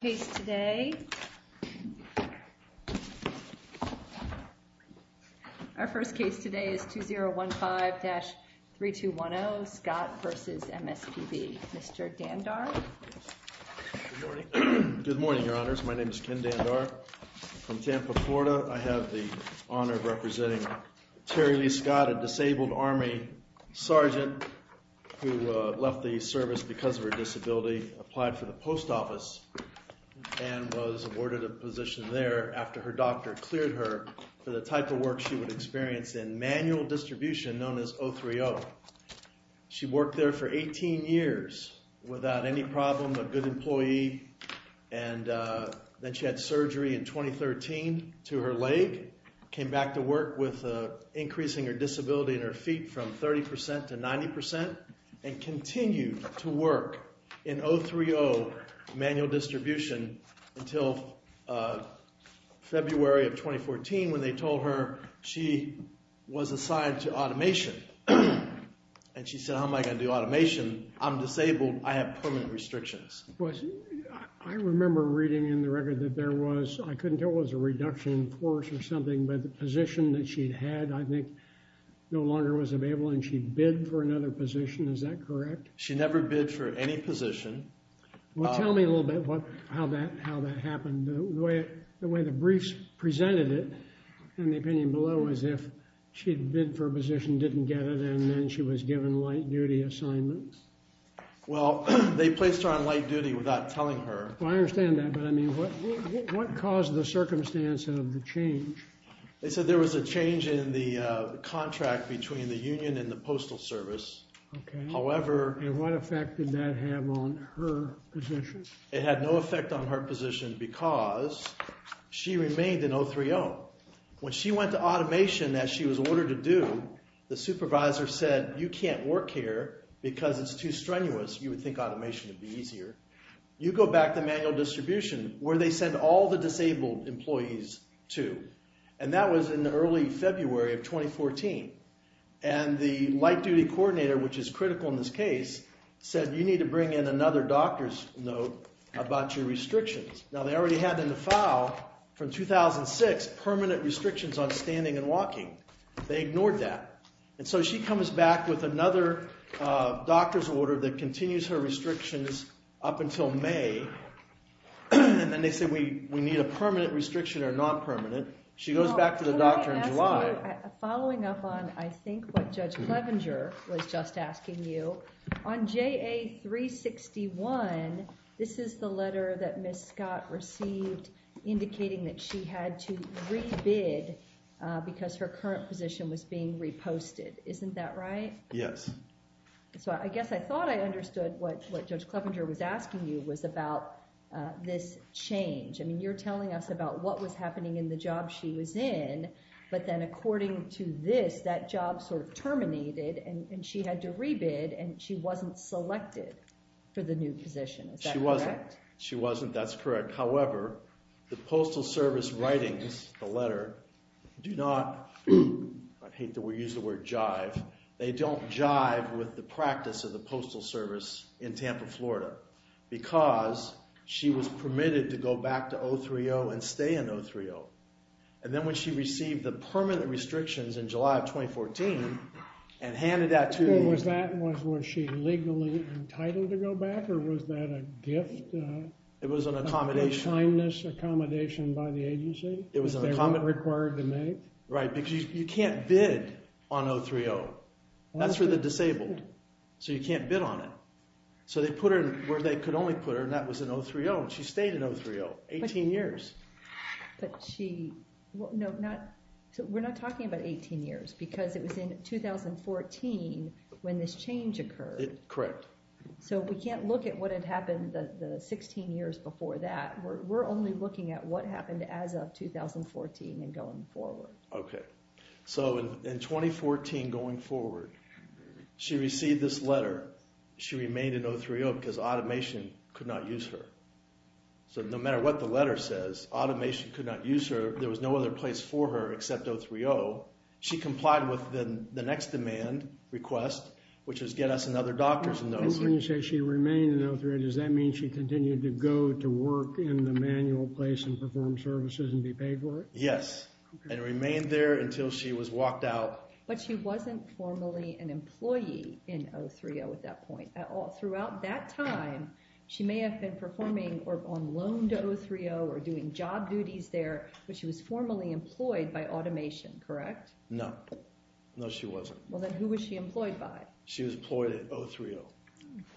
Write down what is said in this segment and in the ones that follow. case today. Our first case today is 2015-3210 Scott v. MSPB. Mr. Dandar. Good morning. Good morning, your honors. My name is Ken Dandar from Tampa, Florida. I have the honor of representing Terry Lee Scott, a disabled army sergeant who left the service because of her disability, applied for the post office, and was awarded a position there after her doctor cleared her for the type of work she would experience in manual distribution known as O3O. She worked there for 18 years without any problem, a good employee, and then she had surgery in 2013 to her leg, came back to work with increasing her disability in her feet from 30% to 90%, and continued to work in O3O manual distribution until February of 2014 when they told her she was assigned to automation. And she said, how am I going to do automation? I'm disabled. I have permanent restrictions. I remember reading in the record that there was, I couldn't tell it was a reduction in force or something, but the position that she'd had I think no longer was available and she bid for another position. Is that correct? She never bid for any position. Well, tell me a little bit about how that happened. The way the briefs presented it in the opinion below was if she'd bid for a position, didn't get it, and then she was given light duty assignments. Well, they placed her on light duty without telling her. Well, I understand that, but I mean, what caused the circumstance of the change? They said there was a change in the contract between the union and the postal service. However... And what effect did that have on her position? It had no effect on her position because she remained in O3O. When she went to automation as she was ordered to do, the supervisor said, you can't work here because it's too strenuous. You would think automation would be easier. You go back to manual distribution where they send all the disabled employees to. And that was in the early February of 2014. And the light duty coordinator, which is critical in this case, said, you need to bring in another doctor's note about your restrictions. Now they already had in the file from 2006 permanent restrictions on standing and walking. They ignored that. And so she comes back with another doctor's order that continues her restrictions up until May. And then they said, we need a permanent restriction or non-permanent. She goes back to the doctor in July. Following up on, I think what Judge Clevenger was just asking you, on JA361, this is the letter that Ms. Scott received indicating that she had to re-bid because her current position was being reposted. Isn't that right? Yes. So I guess I thought I understood what Judge Clevenger was asking you was about this change. I mean, you're telling us about what was happening in the job she was in. But then according to this, that job sort of terminated and she had to re-bid and she wasn't selected for the new position. Is that correct? She wasn't. That's correct. However, the Postal Service writings, the letter, do not, I hate to use the word jive, they don't jive with the practice of the Postal Service in Tampa, Florida, because she was permitted to go back to 030 and stay in 030. And then when she received the permanent restrictions in July of 2014 and handed that to me. Was that, was she legally entitled to go back or was that a gift? It was an accommodation. A kindness accommodation by the agency. It was required to make. Right, because you can't bid on 030. That's for the disabled. So you can't bid on it. So they put her where they could only put her and that was in 030. She stayed in 030, 18 years. But she, no, not, so we're not talking about 18 years because it was in 2014 when this change occurred. Correct. So we can't look at what had happened the 16 years before that. We're only looking at what happened as of 2014 and going forward. Okay. So in 2014 going forward, she received this letter. She remained in 030 because automation could not use her. So no matter what the letter says, automation could not use her. There was no other place for her except 030. She complied with the next demand request, which was get us another doctor's notice. When you say she remained in 030, does that mean she continued to go to work in the manual place and perform services and be paid for it? Yes, and remained there until she was walked out. But she wasn't formally an employee in 030 at that point at all. Throughout that time, she may have been performing or on loan to 030 or doing job duties there, but she was formally employed by automation, correct? No. No, she wasn't. Well, then who was she employed by? She was employed at 030.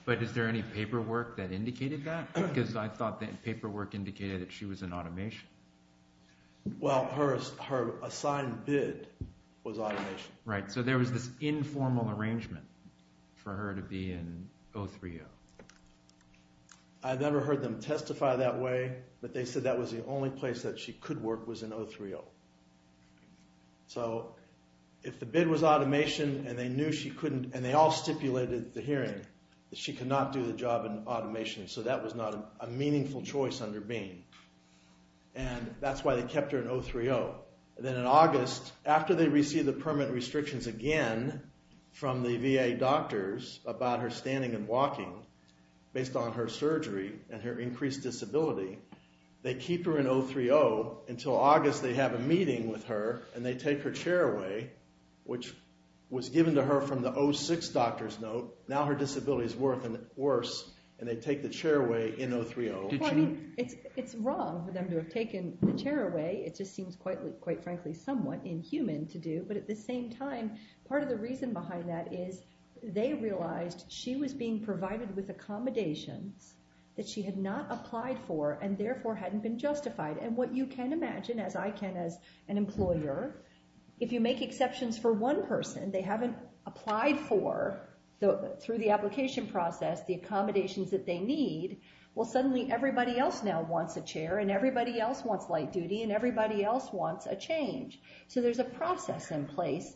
But is there any paperwork that indicated that? Because I thought that paperwork indicated that she was in automation. Well, her assigned bid was automation. Right. So there was this informal arrangement for her to be in 030. I never heard them testify that way, but they said that was the only place that she could work was in 030. So if the bid was automation and they knew she couldn't, and they all stipulated the hearing, that she could not do the job in automation. So that was not a meaningful choice under Bean. And that's why they kept her in 030. Then in August, after they received the walking, based on her surgery and her increased disability, they keep her in 030. Until August, they have a meeting with her, and they take her chair away, which was given to her from the 06 doctor's note. Now her disability is worse, and they take the chair away in 030. It's wrong for them to have taken the chair away. It just seems, quite frankly, somewhat inhuman to do. But at the same time, part of the reason behind that is they realized she was being provided with accommodations that she had not applied for and therefore hadn't been justified. And what you can imagine, as I can as an employer, if you make exceptions for one person, they haven't applied for, through the application process, the accommodations that they need. Well, suddenly everybody else now wants a chair, and everybody else wants light duty, and everybody else wants a change. So there's a process in place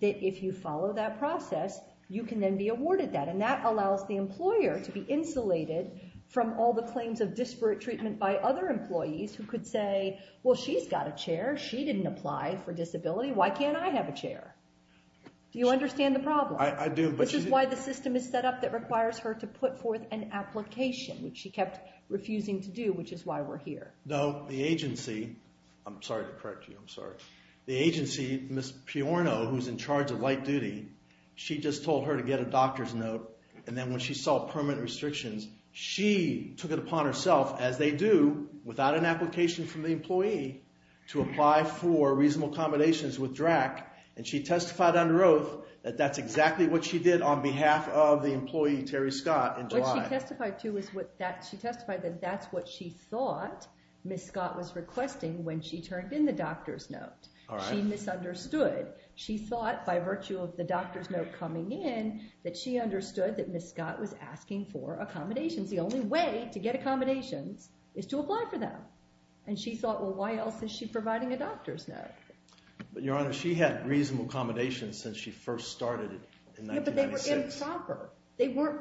that if you follow that process, you can then be awarded that. And that allows the employer to be insulated from all the claims of disparate treatment by other employees who could say, well, she's got a chair. She didn't apply for disability. Why can't I have a chair? Do you understand the problem? I do. Which is why the system is set up that requires her to put forth an application, which she kept refusing to do, which is why we're here. No, the agency, I'm sorry to correct you, I'm sorry. The agency, Ms. Piorno, who's in charge of light duty, she just told her to get a doctor's note, and then when she saw permanent restrictions, she took it upon herself, as they do, without an application from the employee, to apply for reasonable accommodations with DRAC, and she testified under oath that that's exactly what she did on behalf of the employee, Terry Scott. What she testified to was that she testified that that's what she thought Ms. Scott was requesting when she turned in the doctor's note. She misunderstood. She thought, by virtue of the doctor's note coming in, that she understood that Ms. Scott was asking for accommodations. The only way to get accommodations is to apply for them. And she thought, well, why else is she providing a doctor's note? But, Your Honor, she had reasonable accommodations since she first started in 1996. They were improper.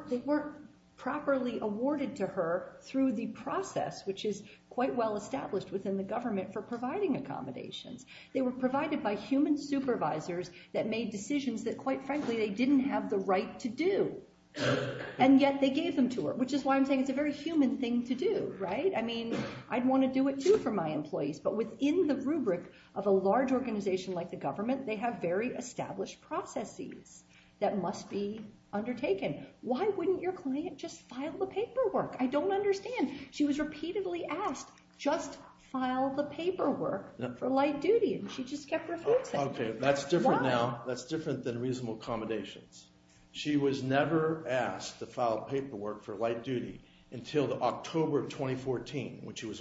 They weren't properly awarded to her through the process, which is quite well established within the government for providing accommodations. They were provided by human supervisors that made decisions that, quite frankly, they didn't have the right to do, and yet they gave them to her, which is why I'm saying it's a very human thing to do, right? I mean, I'd want to do it too for my employees, but within the rubric of a large organization like the government, they have very established processes that must be undertaken. Why wouldn't your client just file the paperwork? I don't understand. She was repeatedly asked, just file the paperwork for light duty, and she just kept refusing. Okay, that's different now. That's different than reasonable accommodations. She was never asked to file paperwork for light duty until the October of 2014, when she was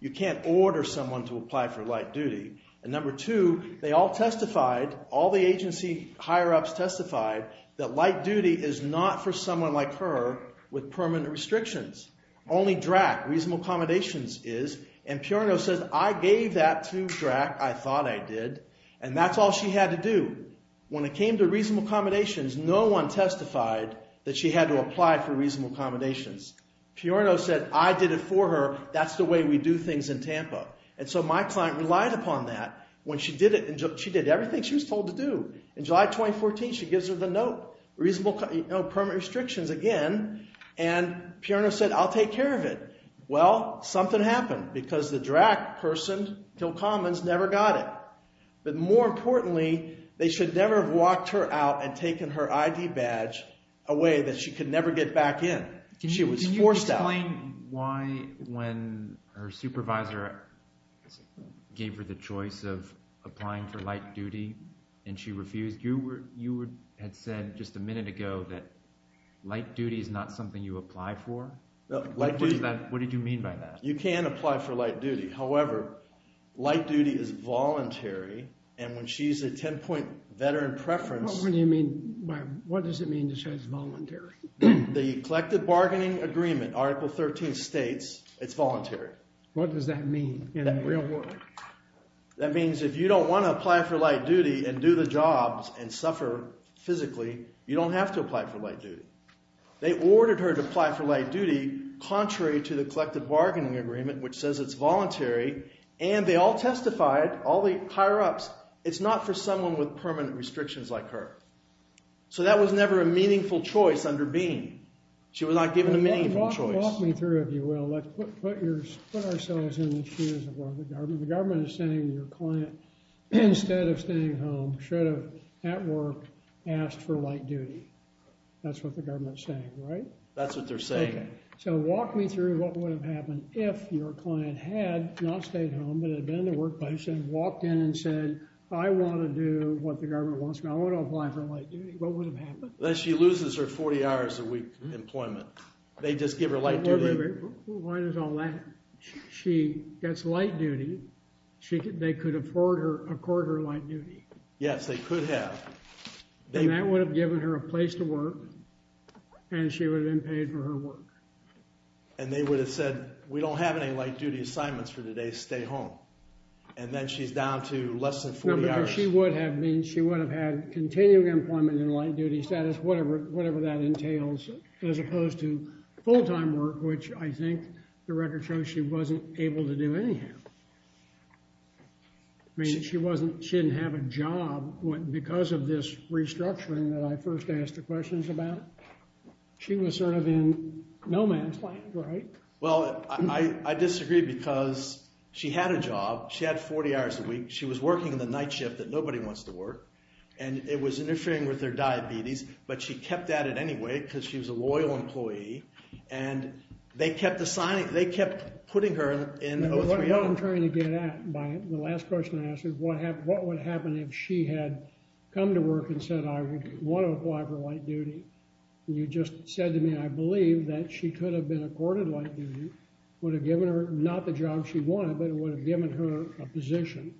you can't order someone to apply for light duty, and number two, they all testified, all the agency higher-ups testified that light duty is not for someone like her with permanent restrictions. Only DRAC, reasonable accommodations, is, and Peorno says, I gave that to DRAC. I thought I did, and that's all she had to do. When it came to reasonable accommodations, no one testified that she had to apply for reasonable accommodations. Peorno said, I did it for her. That's the way we do things in Tampa, and so my client relied upon that. When she did it, she did everything she was told to do. In July 2014, she gives her the note, reasonable, you know, permanent restrictions again, and Peorno said, I'll take care of it. Well, something happened because the DRAC person, Hill Commons, never got it, but more importantly, they should never have walked her out and taken her ID badge away that she could never get back in. She was forced out. Can you explain why, when her supervisor gave her the choice of applying for light duty and she refused, you had said just a minute ago that light duty is not something you apply for. What did you mean by that? You can apply for light duty. However, light duty is voluntary, and when she's a 10-point veteran preference. What do you mean by, what does it mean to say it's voluntary? The collective bargaining agreement, Article 13 states it's voluntary. What does that mean in the real world? That means if you don't want to apply for light duty and do the jobs and suffer physically, you don't have to apply for light duty. They ordered her to apply for light duty contrary to the collective bargaining agreement, which says it's voluntary, and they all testified, all the higher-ups, it's not for someone with a meaningful choice under being. She was not given a meaningful choice. Walk me through, if you will. Let's put ourselves in the shoes of the government. The government is saying your client, instead of staying home, should have, at work, asked for light duty. That's what the government's saying, right? That's what they're saying. So walk me through what would have happened if your client had not stayed home, but had been in the workplace and walked in and said, I want to do what the government wants. I want to apply for light duty. What would have happened? She loses her 40 hours a week employment. They just give her light duty. Wait, wait, wait. Why does all that? She gets light duty. They could afford her, accord her light duty. Yes, they could have. And that would have given her a place to work, and she would have been paid for her work. And they would have said, we don't have any light duty assignments for today. Stay home. And then she's down to less than 40 hours. She would have had continuing employment and light duty status, whatever that entails, as opposed to full-time work, which I think the record shows she wasn't able to do anyhow. I mean, she didn't have a job because of this restructuring that I first asked the questions about. She was sort of in no man's land, right? Well, I disagree because she had a job. She had a night shift that nobody wants to work. And it was interfering with their diabetes, but she kept at it anyway because she was a loyal employee. And they kept assigning, they kept putting her in O3R. What I'm trying to get at by the last question I asked is what would happen if she had come to work and said, I want to apply for light duty. And you just said to me, I believe that she could have been accorded light duty. Would have given her not the job she wanted, but it would have given her a position.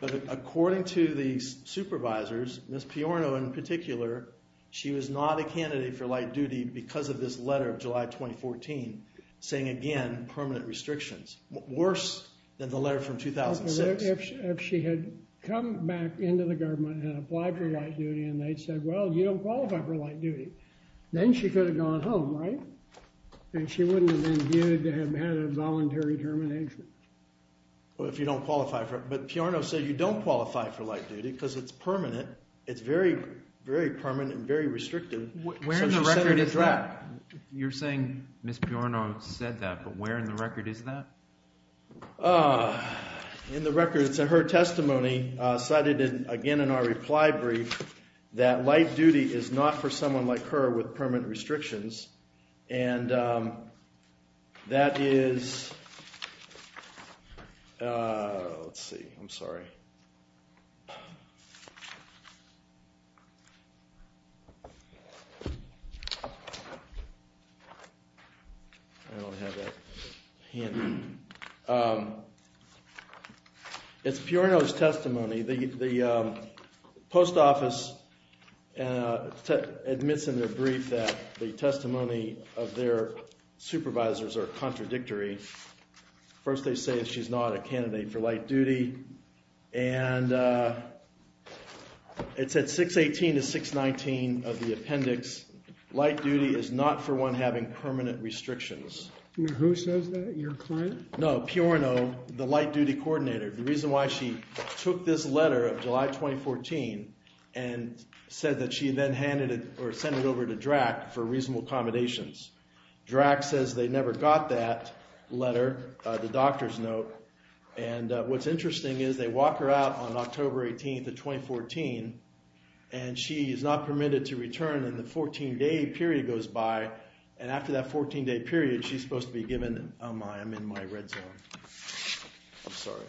But according to the supervisors, Ms. Piorno in particular, she was not a candidate for light duty because of this letter of July 2014 saying again, permanent restrictions. Worse than the letter from 2006. If she had come back into the government and applied for light duty and they'd said, well, you don't qualify for light termination. Well, if you don't qualify for it, but Piorno said you don't qualify for light duty because it's permanent. It's very, very permanent and very restrictive. Where in the record is that? You're saying Ms. Piorno said that, but where in the record is that? In the record, it's in her testimony cited again in our reply brief that light duty is not for light duty. Let's see. I'm sorry. I don't have that. It's Piorno's testimony. The post office admits in their brief that the testimony of their supervisors are contradictory. First they say she's not a candidate for light duty and it's at 618 to 619 of the appendix. Light duty is not for one having permanent restrictions. Who says that? Your client? No, Piorno, the light duty coordinator. The reason why she took this letter of July 2014 and said that she then handed it or sent it over to Drack for reasonable accommodations. Drack says they never got that letter, the doctor's note. And what's interesting is they walk her out on October 18th of 2014 and she is not permitted to return in the 14 day period goes by. And after that 14 day period, she's supposed to be given, oh my, I'm in my red zone. I'm sorry.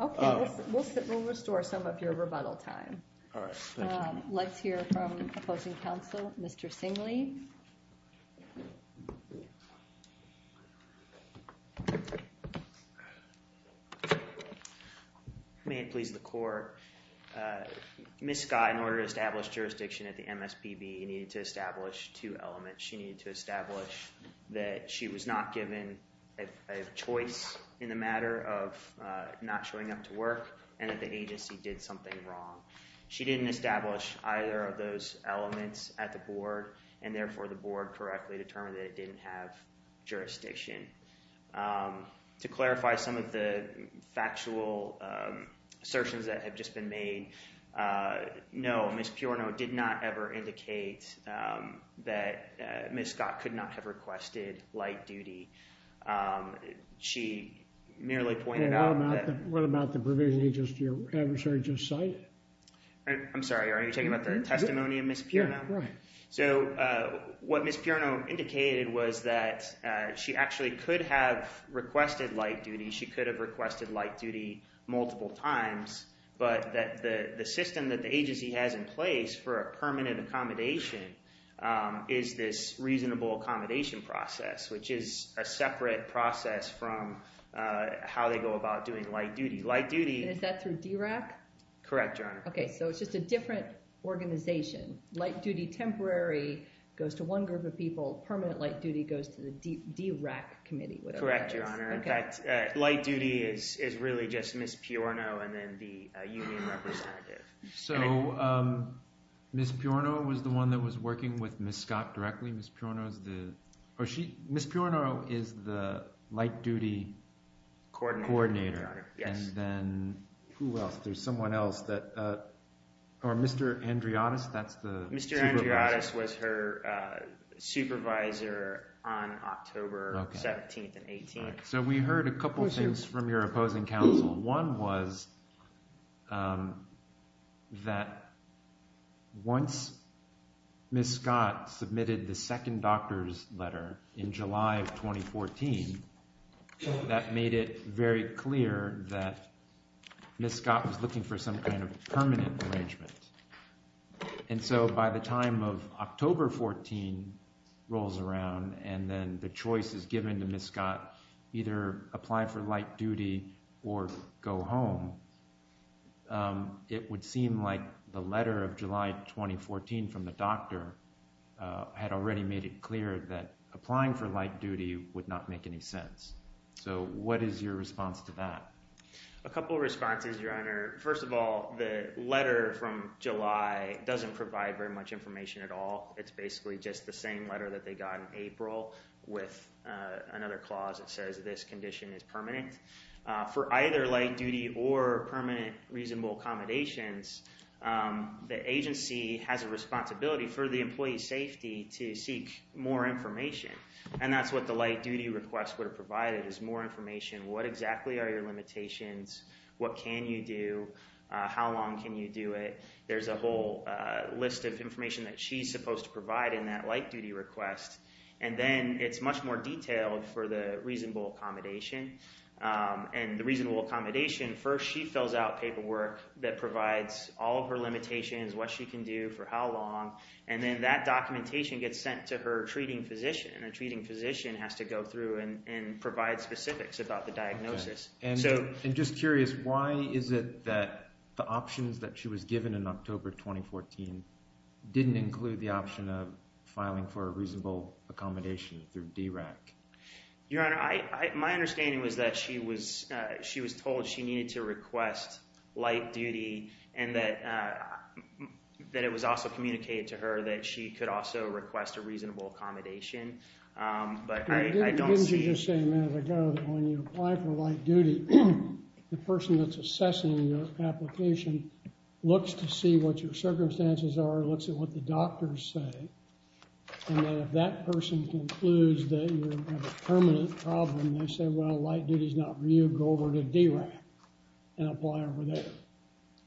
Okay, we'll restore some of your rebuttal time. Let's hear from opposing counsel, Mr. Singley. May it please the court. Ms. Scott, in order to establish jurisdiction at the MSPB, needed to establish two elements. She needed to establish that she was not given a choice in the matter of not showing up to work and that the agency did something wrong. She didn't establish either of those elements at the board and therefore the board correctly determined that it didn't have jurisdiction. To clarify some of the factual assertions that have just been made, no, Ms. Piorno did not ever indicate that Ms. Scott could not have requested light duty. Um, she merely pointed out. What about the provision you just, your adversary just cited? I'm sorry, are you talking about the testimony of Ms. Piorno? Right. So, uh, what Ms. Piorno indicated was that, uh, she actually could have requested light duty. She could have requested light duty multiple times, but that the, the system that the agency has in place for a permanent accommodation, um, is this reasonable accommodation process, which is a separate process from, uh, how they go about doing light duty. Light duty. Is that through DRAC? Correct, Your Honor. Okay. So it's just a different organization. Light duty temporary goes to one group of people. Permanent light duty goes to the DRAC committee. Correct, Your Honor. In fact, uh, light duty is, is really just Ms. Piorno and then the union representative. So, um, Ms. Piorno was the one that was working with Ms. Scott directly. Ms. Piorno is the, or she, Ms. Piorno is the light duty coordinator. Yes. And then who else? There's someone else that, uh, or Mr. Andriotis, that's the... Mr. Andriotis was her, uh, supervisor on October 17th and 18th. So we heard a couple of things from your opposing counsel. One was, um, that once Ms. Scott submitted the second doctor's letter in July of 2014, that made it very clear that Ms. Scott was looking for some kind of permanent arrangement. And so by the time of either apply for light duty or go home, um, it would seem like the letter of July 2014 from the doctor, uh, had already made it clear that applying for light duty would not make any sense. So what is your response to that? A couple of responses, Your Honor. First of all, the letter from July doesn't provide very much information at all. It's basically just the same clause that says this condition is permanent, uh, for either light duty or permanent reasonable accommodations. Um, the agency has a responsibility for the employee safety to seek more information. And that's what the light duty request would have provided is more information. What exactly are your limitations? What can you do? Uh, how long can you do it? There's a whole, uh, list of information that she's supposed to provide in that light duty request. And then it's much more detailed for the reasonable accommodation. Um, and the reasonable accommodation first, she fills out paperwork that provides all of her limitations, what she can do for how long. And then that documentation gets sent to her treating physician and a treating physician has to go through and provide specifics about the diagnosis. And just curious, why is it that the options that she was given in October of 2014 didn't include the option of filing for a reasonable accommodation through your honor? I, my understanding was that she was, uh, she was told she needed to request light duty and that, uh, that it was also communicated to her that she could also request a reasonable accommodation. Um, but I don't see the same as I go when you apply for light duty, the person that's assessing your application looks to see what your circumstances are, looks at what the doctors say. And then if that person concludes that you have a permanent problem, they say, well, light duty is not for you, go over to DRAC and apply over there.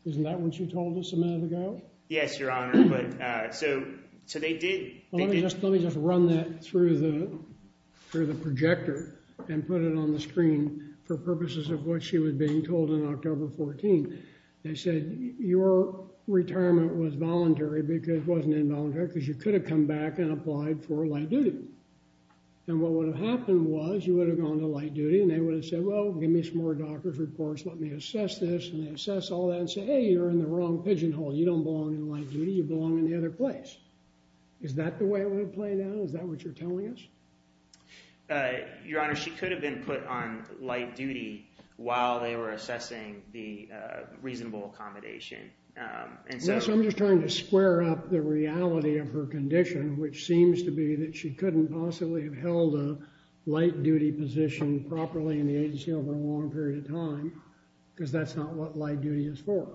Isn't that what you told us a minute ago? Yes, your honor. But, uh, so, so they did. Let me just run that through the, through the projector and put it on the screen for purposes of what she was being told in October 14. They said your retirement was voluntary because it wasn't involuntary because you could have come back and applied for light duty. And what would have happened was you would have gone to light duty and they would have said, well, give me some more doctor's reports. Let me assess this. And they assess all that and say, Hey, you're in the wrong pigeonhole. You don't belong in light duty. You belong in the other place. Is that the way it would have played out? Is that what you're telling us? Uh, your honor, she could have been put on light duty while they were assessing the, uh, reasonable accommodation. Um, and so I'm just trying to square up the reality of her condition, which seems to be that she couldn't possibly have held a light duty position properly in the agency over a long period of time, because that's not what light duty is for.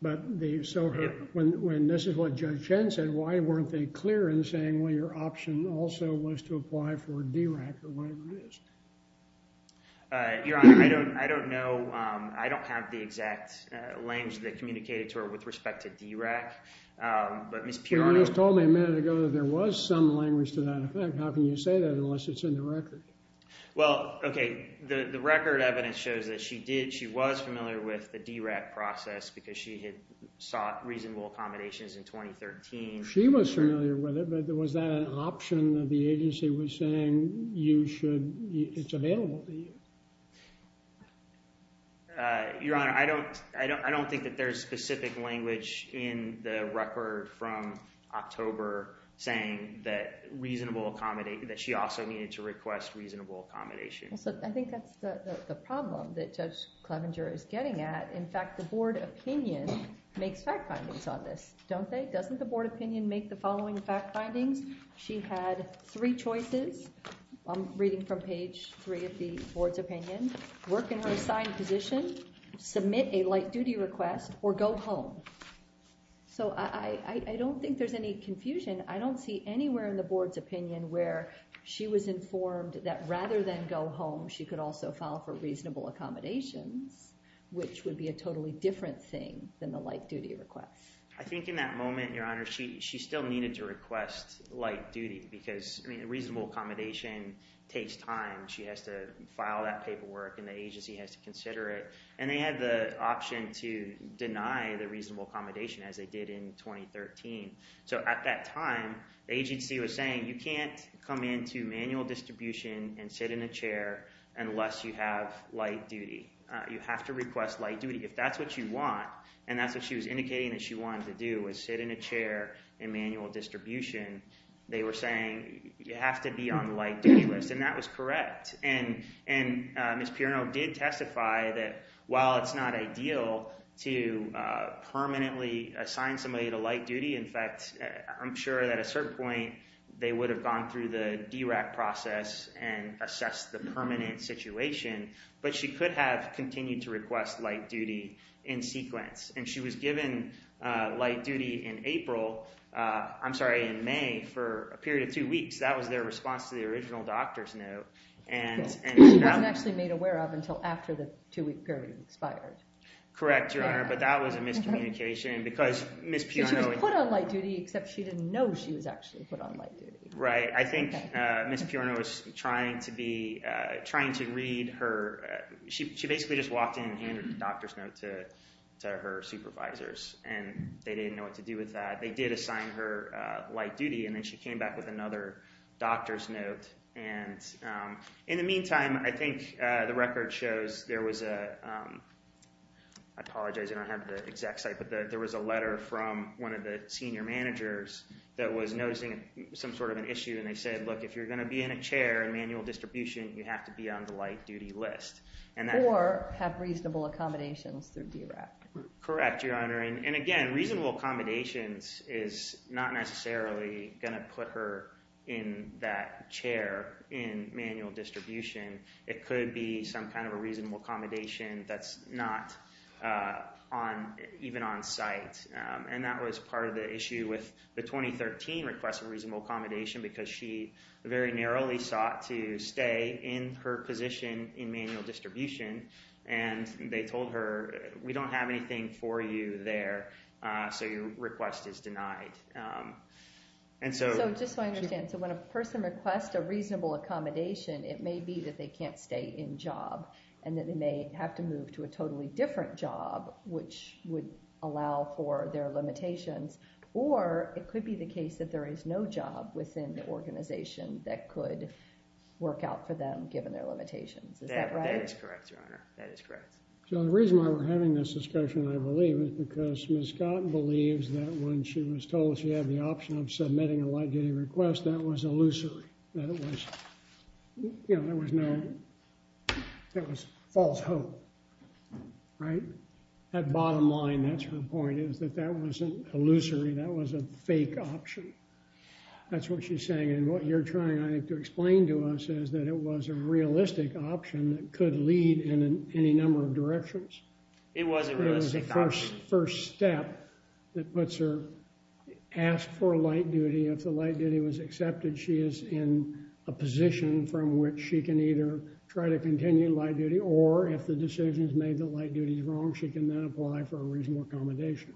But the, so when, when this is what Judge Chen said, why weren't they clear in saying, well, your option also was to apply for a DRAC or whatever it is? Uh, your honor, I don't, I don't know. Um, I don't have the exact language that communicated to her with respect to DRAC. Um, but Ms. Pirani told me a minute ago that there was some language to that effect. How can you say that unless it's in the record? Well, okay. The, the record evidence shows that she did, she was familiar with the DRAC process because she had sought reasonable accommodations in 2013. She was familiar with it, but was that an option that the agency was saying you should, it's available to you? Uh, your honor, I don't, I don't, I don't think that there's specific language in the record from October saying that reasonable accommodate, that she also needed to request reasonable accommodation. So I think that's the problem that Judge Clevenger is getting at. In fact, the board opinion makes fact findings on this, don't they? Doesn't the board opinion make the following fact findings? She had three choices, I'm reading from page three of the board's opinion, work in her assigned position, submit a light duty request, or go home. So I, I, I don't think there's any confusion. I don't see anywhere in the board's opinion where she was informed that rather than go home, she could also file for reasonable accommodations, which would be a totally different thing than the light duty request. I think in that moment, your honor, she, she still needed to request light duty because, I mean, reasonable accommodation takes time. She has to file that paperwork and the agency has to consider it. And they had the option to deny the reasonable accommodation as they did in 2013. So at that time, the agency was saying you can't come into manual distribution and sit in a chair unless you have light duty. You have to request light duty. If that's what you want, and that's what she was indicating that she wanted to do, was sit in a chair in manual distribution, they were saying you have to be on light duty list, and that was correct. And, and Ms. Pirino did testify that while it's not ideal to permanently assign somebody to light duty, in fact, I'm sure that at a certain point they would have gone through the DRAC process and assessed the permanent situation, but she could have continued to request light duty in sequence. And she was given light duty in April, I'm sorry, in May for a period of two weeks. That was their response to the original doctor's note. And she wasn't actually made aware of until after the two-week period expired. Correct, your honor, but that was a miscommunication because Ms. Pirino... She was put on light duty except she didn't know she was actually put on light duty. Right, I think Ms. Pirino was trying to be, trying to read her, she basically just walked in and handed the doctor's note to her supervisors, and they didn't know what to do with that. They did assign her light duty, and then she came back with another doctor's note. And in the meantime, I think the record shows there was a, I apologize I don't have the exact site, but there was a letter from one of the senior managers that was noticing some sort of an issue, and they said, look, if you're going to be in a chair in manual distribution, you have to be on the light duty list. Or have reasonable accommodations through DRAC. Correct, your honor, and again, reasonable accommodations is not necessarily going to put her in that chair in manual distribution. It could be some kind of a reasonable accommodation that's not on even on site, and that was part of the issue with the 2013 request for reasonable accommodation, because she very narrowly sought to stay in her position in manual distribution, and they told her we don't have anything for you there, so your request is denied. And so just so I understand, so when a person requests a reasonable accommodation, it may be that they can't stay in job, and that they may have to move to a totally different job, which would allow for their limitations, or it could be the case that there is no job within the organization that could work out for them given their limitations. Is that right? That is correct, your honor. That is correct. So the reason why we're having this discussion, I believe, is because Ms. Scott believes that when she was told she had the option of submitting a light duty request, that was illusory. That it was, you know, there was no, that was false hope, right? That bottom line, that's her point, is that that wasn't illusory. That was a fake option. That's what she's saying, and what you're trying, I think, to explain to us is that it was a realistic option that could lead in any number of directions. It was a realistic option. It was the first step that puts her, asked for a light duty. If the light from which she can either try to continue light duty, or if the decision is made that light duty is wrong, she can then apply for a reasonable accommodation.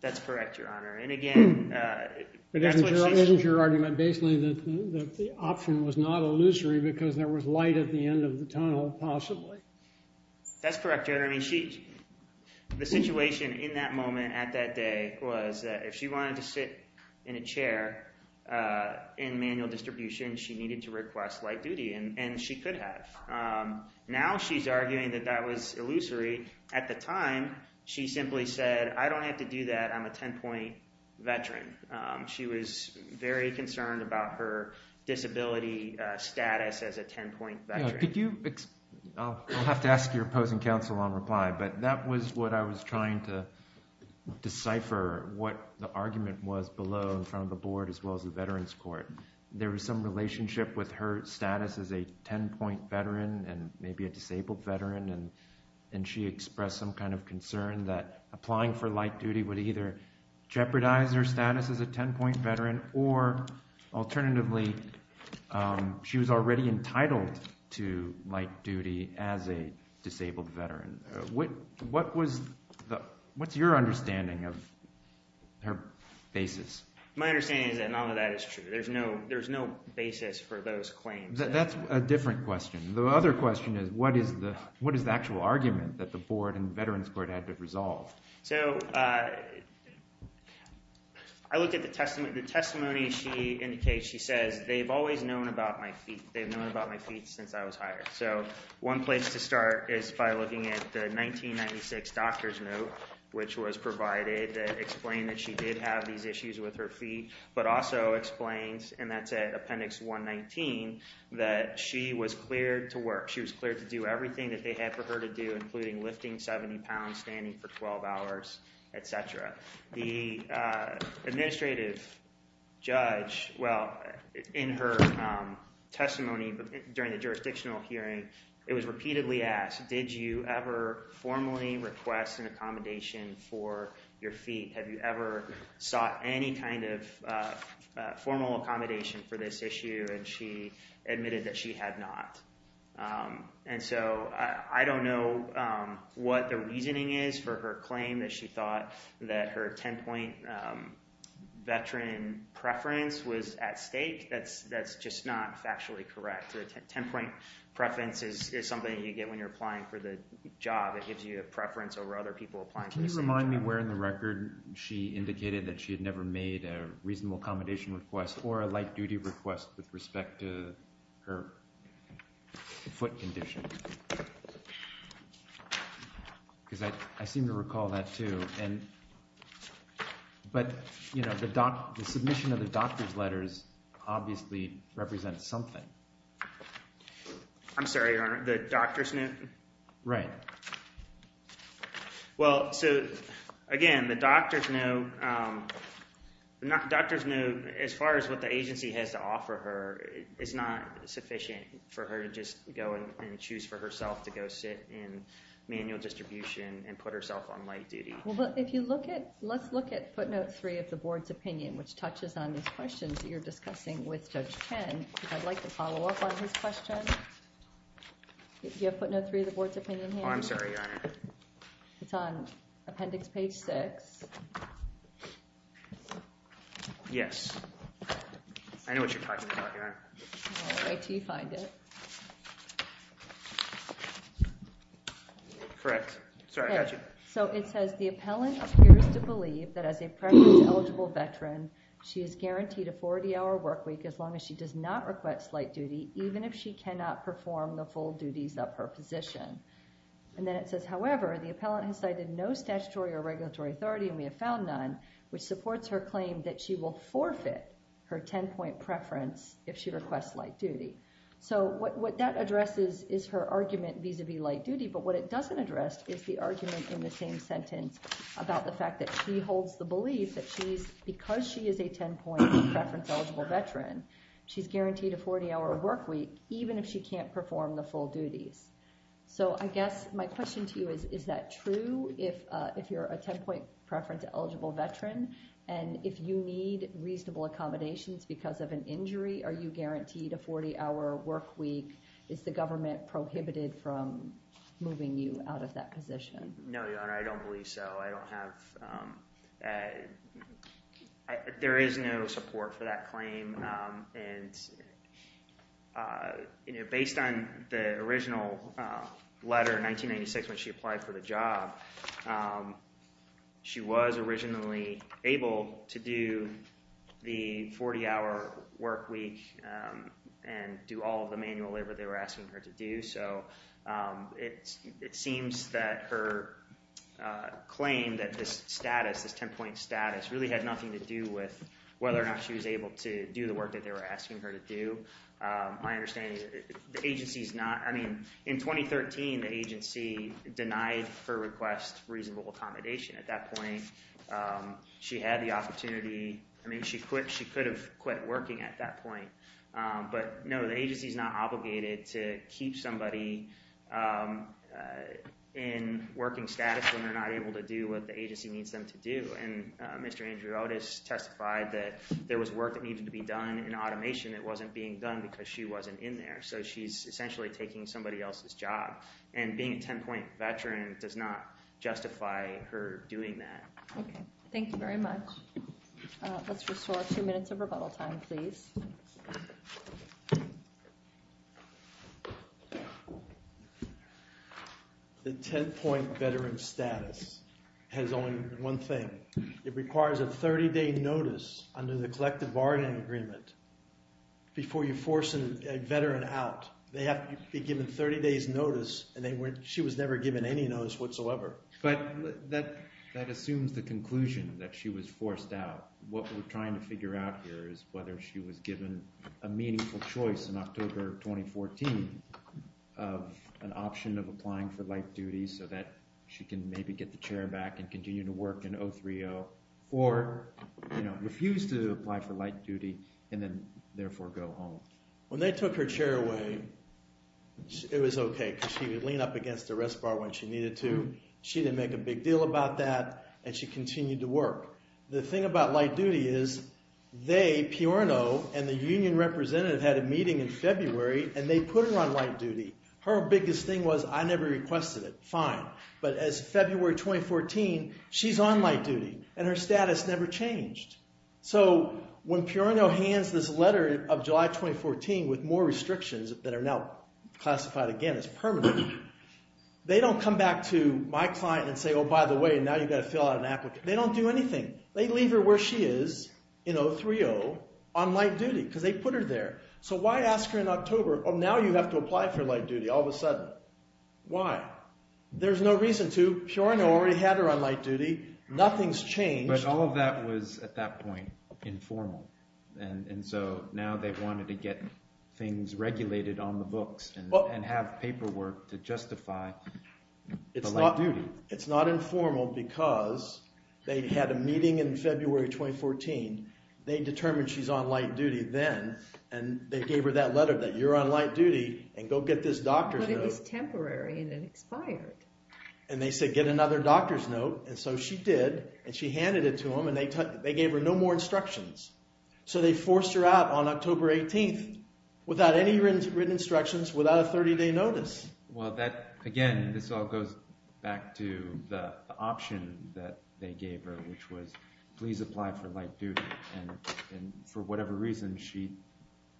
That's correct, your honor, and again, isn't your argument basically that the option was not illusory because there was light at the end of the tunnel, possibly? That's correct, your honor. I mean, she, the situation in that moment at that day was that if she wanted to sit in a chair in manual distribution, she needed to request light duty, and she could have. Now she's arguing that that was illusory. At the time, she simply said, I don't have to do that. I'm a 10-point veteran. She was very concerned about her disability status as a 10-point veteran. Could you, I'll have to ask your opposing counsel on reply, but that was what I was trying to decipher, what the argument was below in front of the board, as well as the Veterans Court. There was some relationship with her status as a 10-point veteran, and maybe a disabled veteran, and she expressed some kind of concern that applying for light duty would either jeopardize her status as a 10-point veteran, or alternatively, she was already entitled to light duty as a basis. My understanding is that none of that is true. There's no basis for those claims. That's a different question. The other question is, what is the actual argument that the board and Veterans Court had to resolve? So, I looked at the testimony. The testimony she indicates, she says, they've always known about my feet. They've known about my feet since I was hired. So, one place to start is by looking at the 1996 doctor's note, which was provided that explained that she did have these issues with her feet, but also explains, and that's at appendix 119, that she was cleared to work. She was cleared to do everything that they had for her to do, including lifting 70 pounds, standing for 12 hours, etc. The administrative judge, well, in her testimony during the jurisdictional hearing, it was repeatedly asked, did you ever formally request an accommodation for your feet? Have you ever sought any kind of formal accommodation for this issue? And she admitted that she had not. And so, I don't know what the reasoning is for her claim that she thought that her 10-point veteran preference was at stake. That's just not factually correct. A 10-point preference is something you get when you're applying for the job. It gives you a preference over other people applying for the same job. Can you remind me where in the record she indicated that she had never made a reasonable accommodation request or a light duty request with respect to her foot condition? Because I seem to recall that, too. But the submission of the doctor's letters obviously represents something. I'm sorry, Your Honor, the doctor's note? Right. Well, so again, the doctor's note, as far as what the agency has to offer her, is not sufficient for her to just go and choose for herself to go sit in manual distribution and put herself on light duty. Well, but if you look at, let's look at footnote three of the board's opinion, which touches on these questions that you're discussing with Judge Chen. I'd like to follow up on his question. Do you have footnote three of the board's opinion here? Oh, I'm sorry, Your Honor. It's on appendix page six. Yes. I know what you're talking about here. I'll wait until you find it. Correct. Sorry, I got you. So it says, the appellant appears to believe that as a preference eligible veteran, she is guaranteed a 40-hour work week as long as she does not request light duty, even if she cannot perform the full duties of her position. And then it says, however, the appellant has cited no statutory or regulatory authority and we have found none, which supports her claim that she will forfeit her 10-point preference if she requests light duty. So what that addresses is her argument vis-a-vis light duty, but what it doesn't address is the argument in the same sentence about the fact that she holds the belief that she's, because she is a 10-point preference eligible veteran, she's guaranteed a 40-hour work week, even if she can't perform the full duties. So I guess my question to you is, is that true if you're a 10-point preference eligible veteran? And if you need reasonable accommodations because of an injury, are you guaranteed a 40-hour work week? Is the government prohibited from moving you out of that position? No, Your Honor, I don't believe so. I don't have, there is no support for that claim. And based on the original letter in 1996, when she applied for the job, she was originally able to do the 40-hour work week and do all of the manual labor they were asking her to do. So it seems that her claim that this status, this 10-point status, really had nothing to do with whether or not she was able to do the work they were asking her to do. My understanding is the agency is not, I mean, in 2013, the agency denied her request for reasonable accommodation. At that point, she had the opportunity, I mean, she quit, she could have quit working at that point. But no, the agency is not obligated to keep somebody in working status when they're not able to do what the agency needs them to do. And Mr. Andrew Otis testified that there was work that needed to be done in automation that wasn't being done because she wasn't in there. So she's essentially taking somebody else's job. And being a 10-point veteran does not justify her doing that. Okay, thank you very much. Let's restore two minutes of rebuttal time, please. The 10-point veteran status has only one thing. It requires a 30-day notice under the collective bargaining agreement before you force a veteran out. They have to be given 30 days notice, and she was never given any notice whatsoever. But that assumes the conclusion that she was a meaningful choice in October 2014 of an option of applying for light duty so that she can maybe get the chair back and continue to work in 030, or refuse to apply for light duty and then therefore go home. When they took her chair away, it was okay because she would lean up against the rest bar when she needed to. She didn't make a big deal about that, and she had a meeting in February, and they put her on light duty. Her biggest thing was, I never requested it. Fine. But as February 2014, she's on light duty, and her status never changed. So when Peorino hands this letter of July 2014 with more restrictions that are now classified again as permanent, they don't come back to my client and say, oh, by the way, now you've got to fill out an application. They don't do anything. They leave her where she is in 030 on light duty because they put her there. So why ask her in October, oh, now you have to apply for light duty all of a sudden? Why? There's no reason to. Peorino already had her on light duty. Nothing's changed. But all of that was, at that point, informal. And so now they wanted to get things regulated on the books and have paperwork to justify the light duty. It's not informal because they had a meeting in February 2014. They determined she's on light duty then, and they gave her that letter that you're on light duty, and go get this doctor's note. But it was temporary, and it expired. And they said, get another doctor's note. And so she did, and she handed it to them, and they gave her no more instructions. So they forced her out on October 18th without any written instructions, without a 30-day notice. Well, again, this all back to the option that they gave her, which was, please apply for light duty. And for whatever reason, she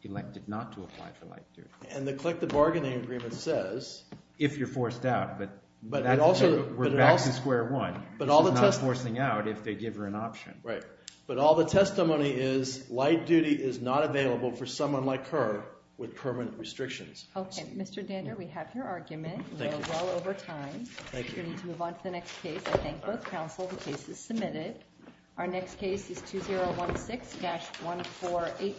elected not to apply for light duty. And the collective bargaining agreement says... If you're forced out, but we're back to square one. She's not forcing out if they give her an option. Right. But all the testimony is, light duty is not available for someone like her with permanent restrictions. Okay, Mr. Dander, we have your argument. We're well over time. Thank you. We need to move on to the next case. I thank both counsel. The case is submitted. Our next case is 2016-1485.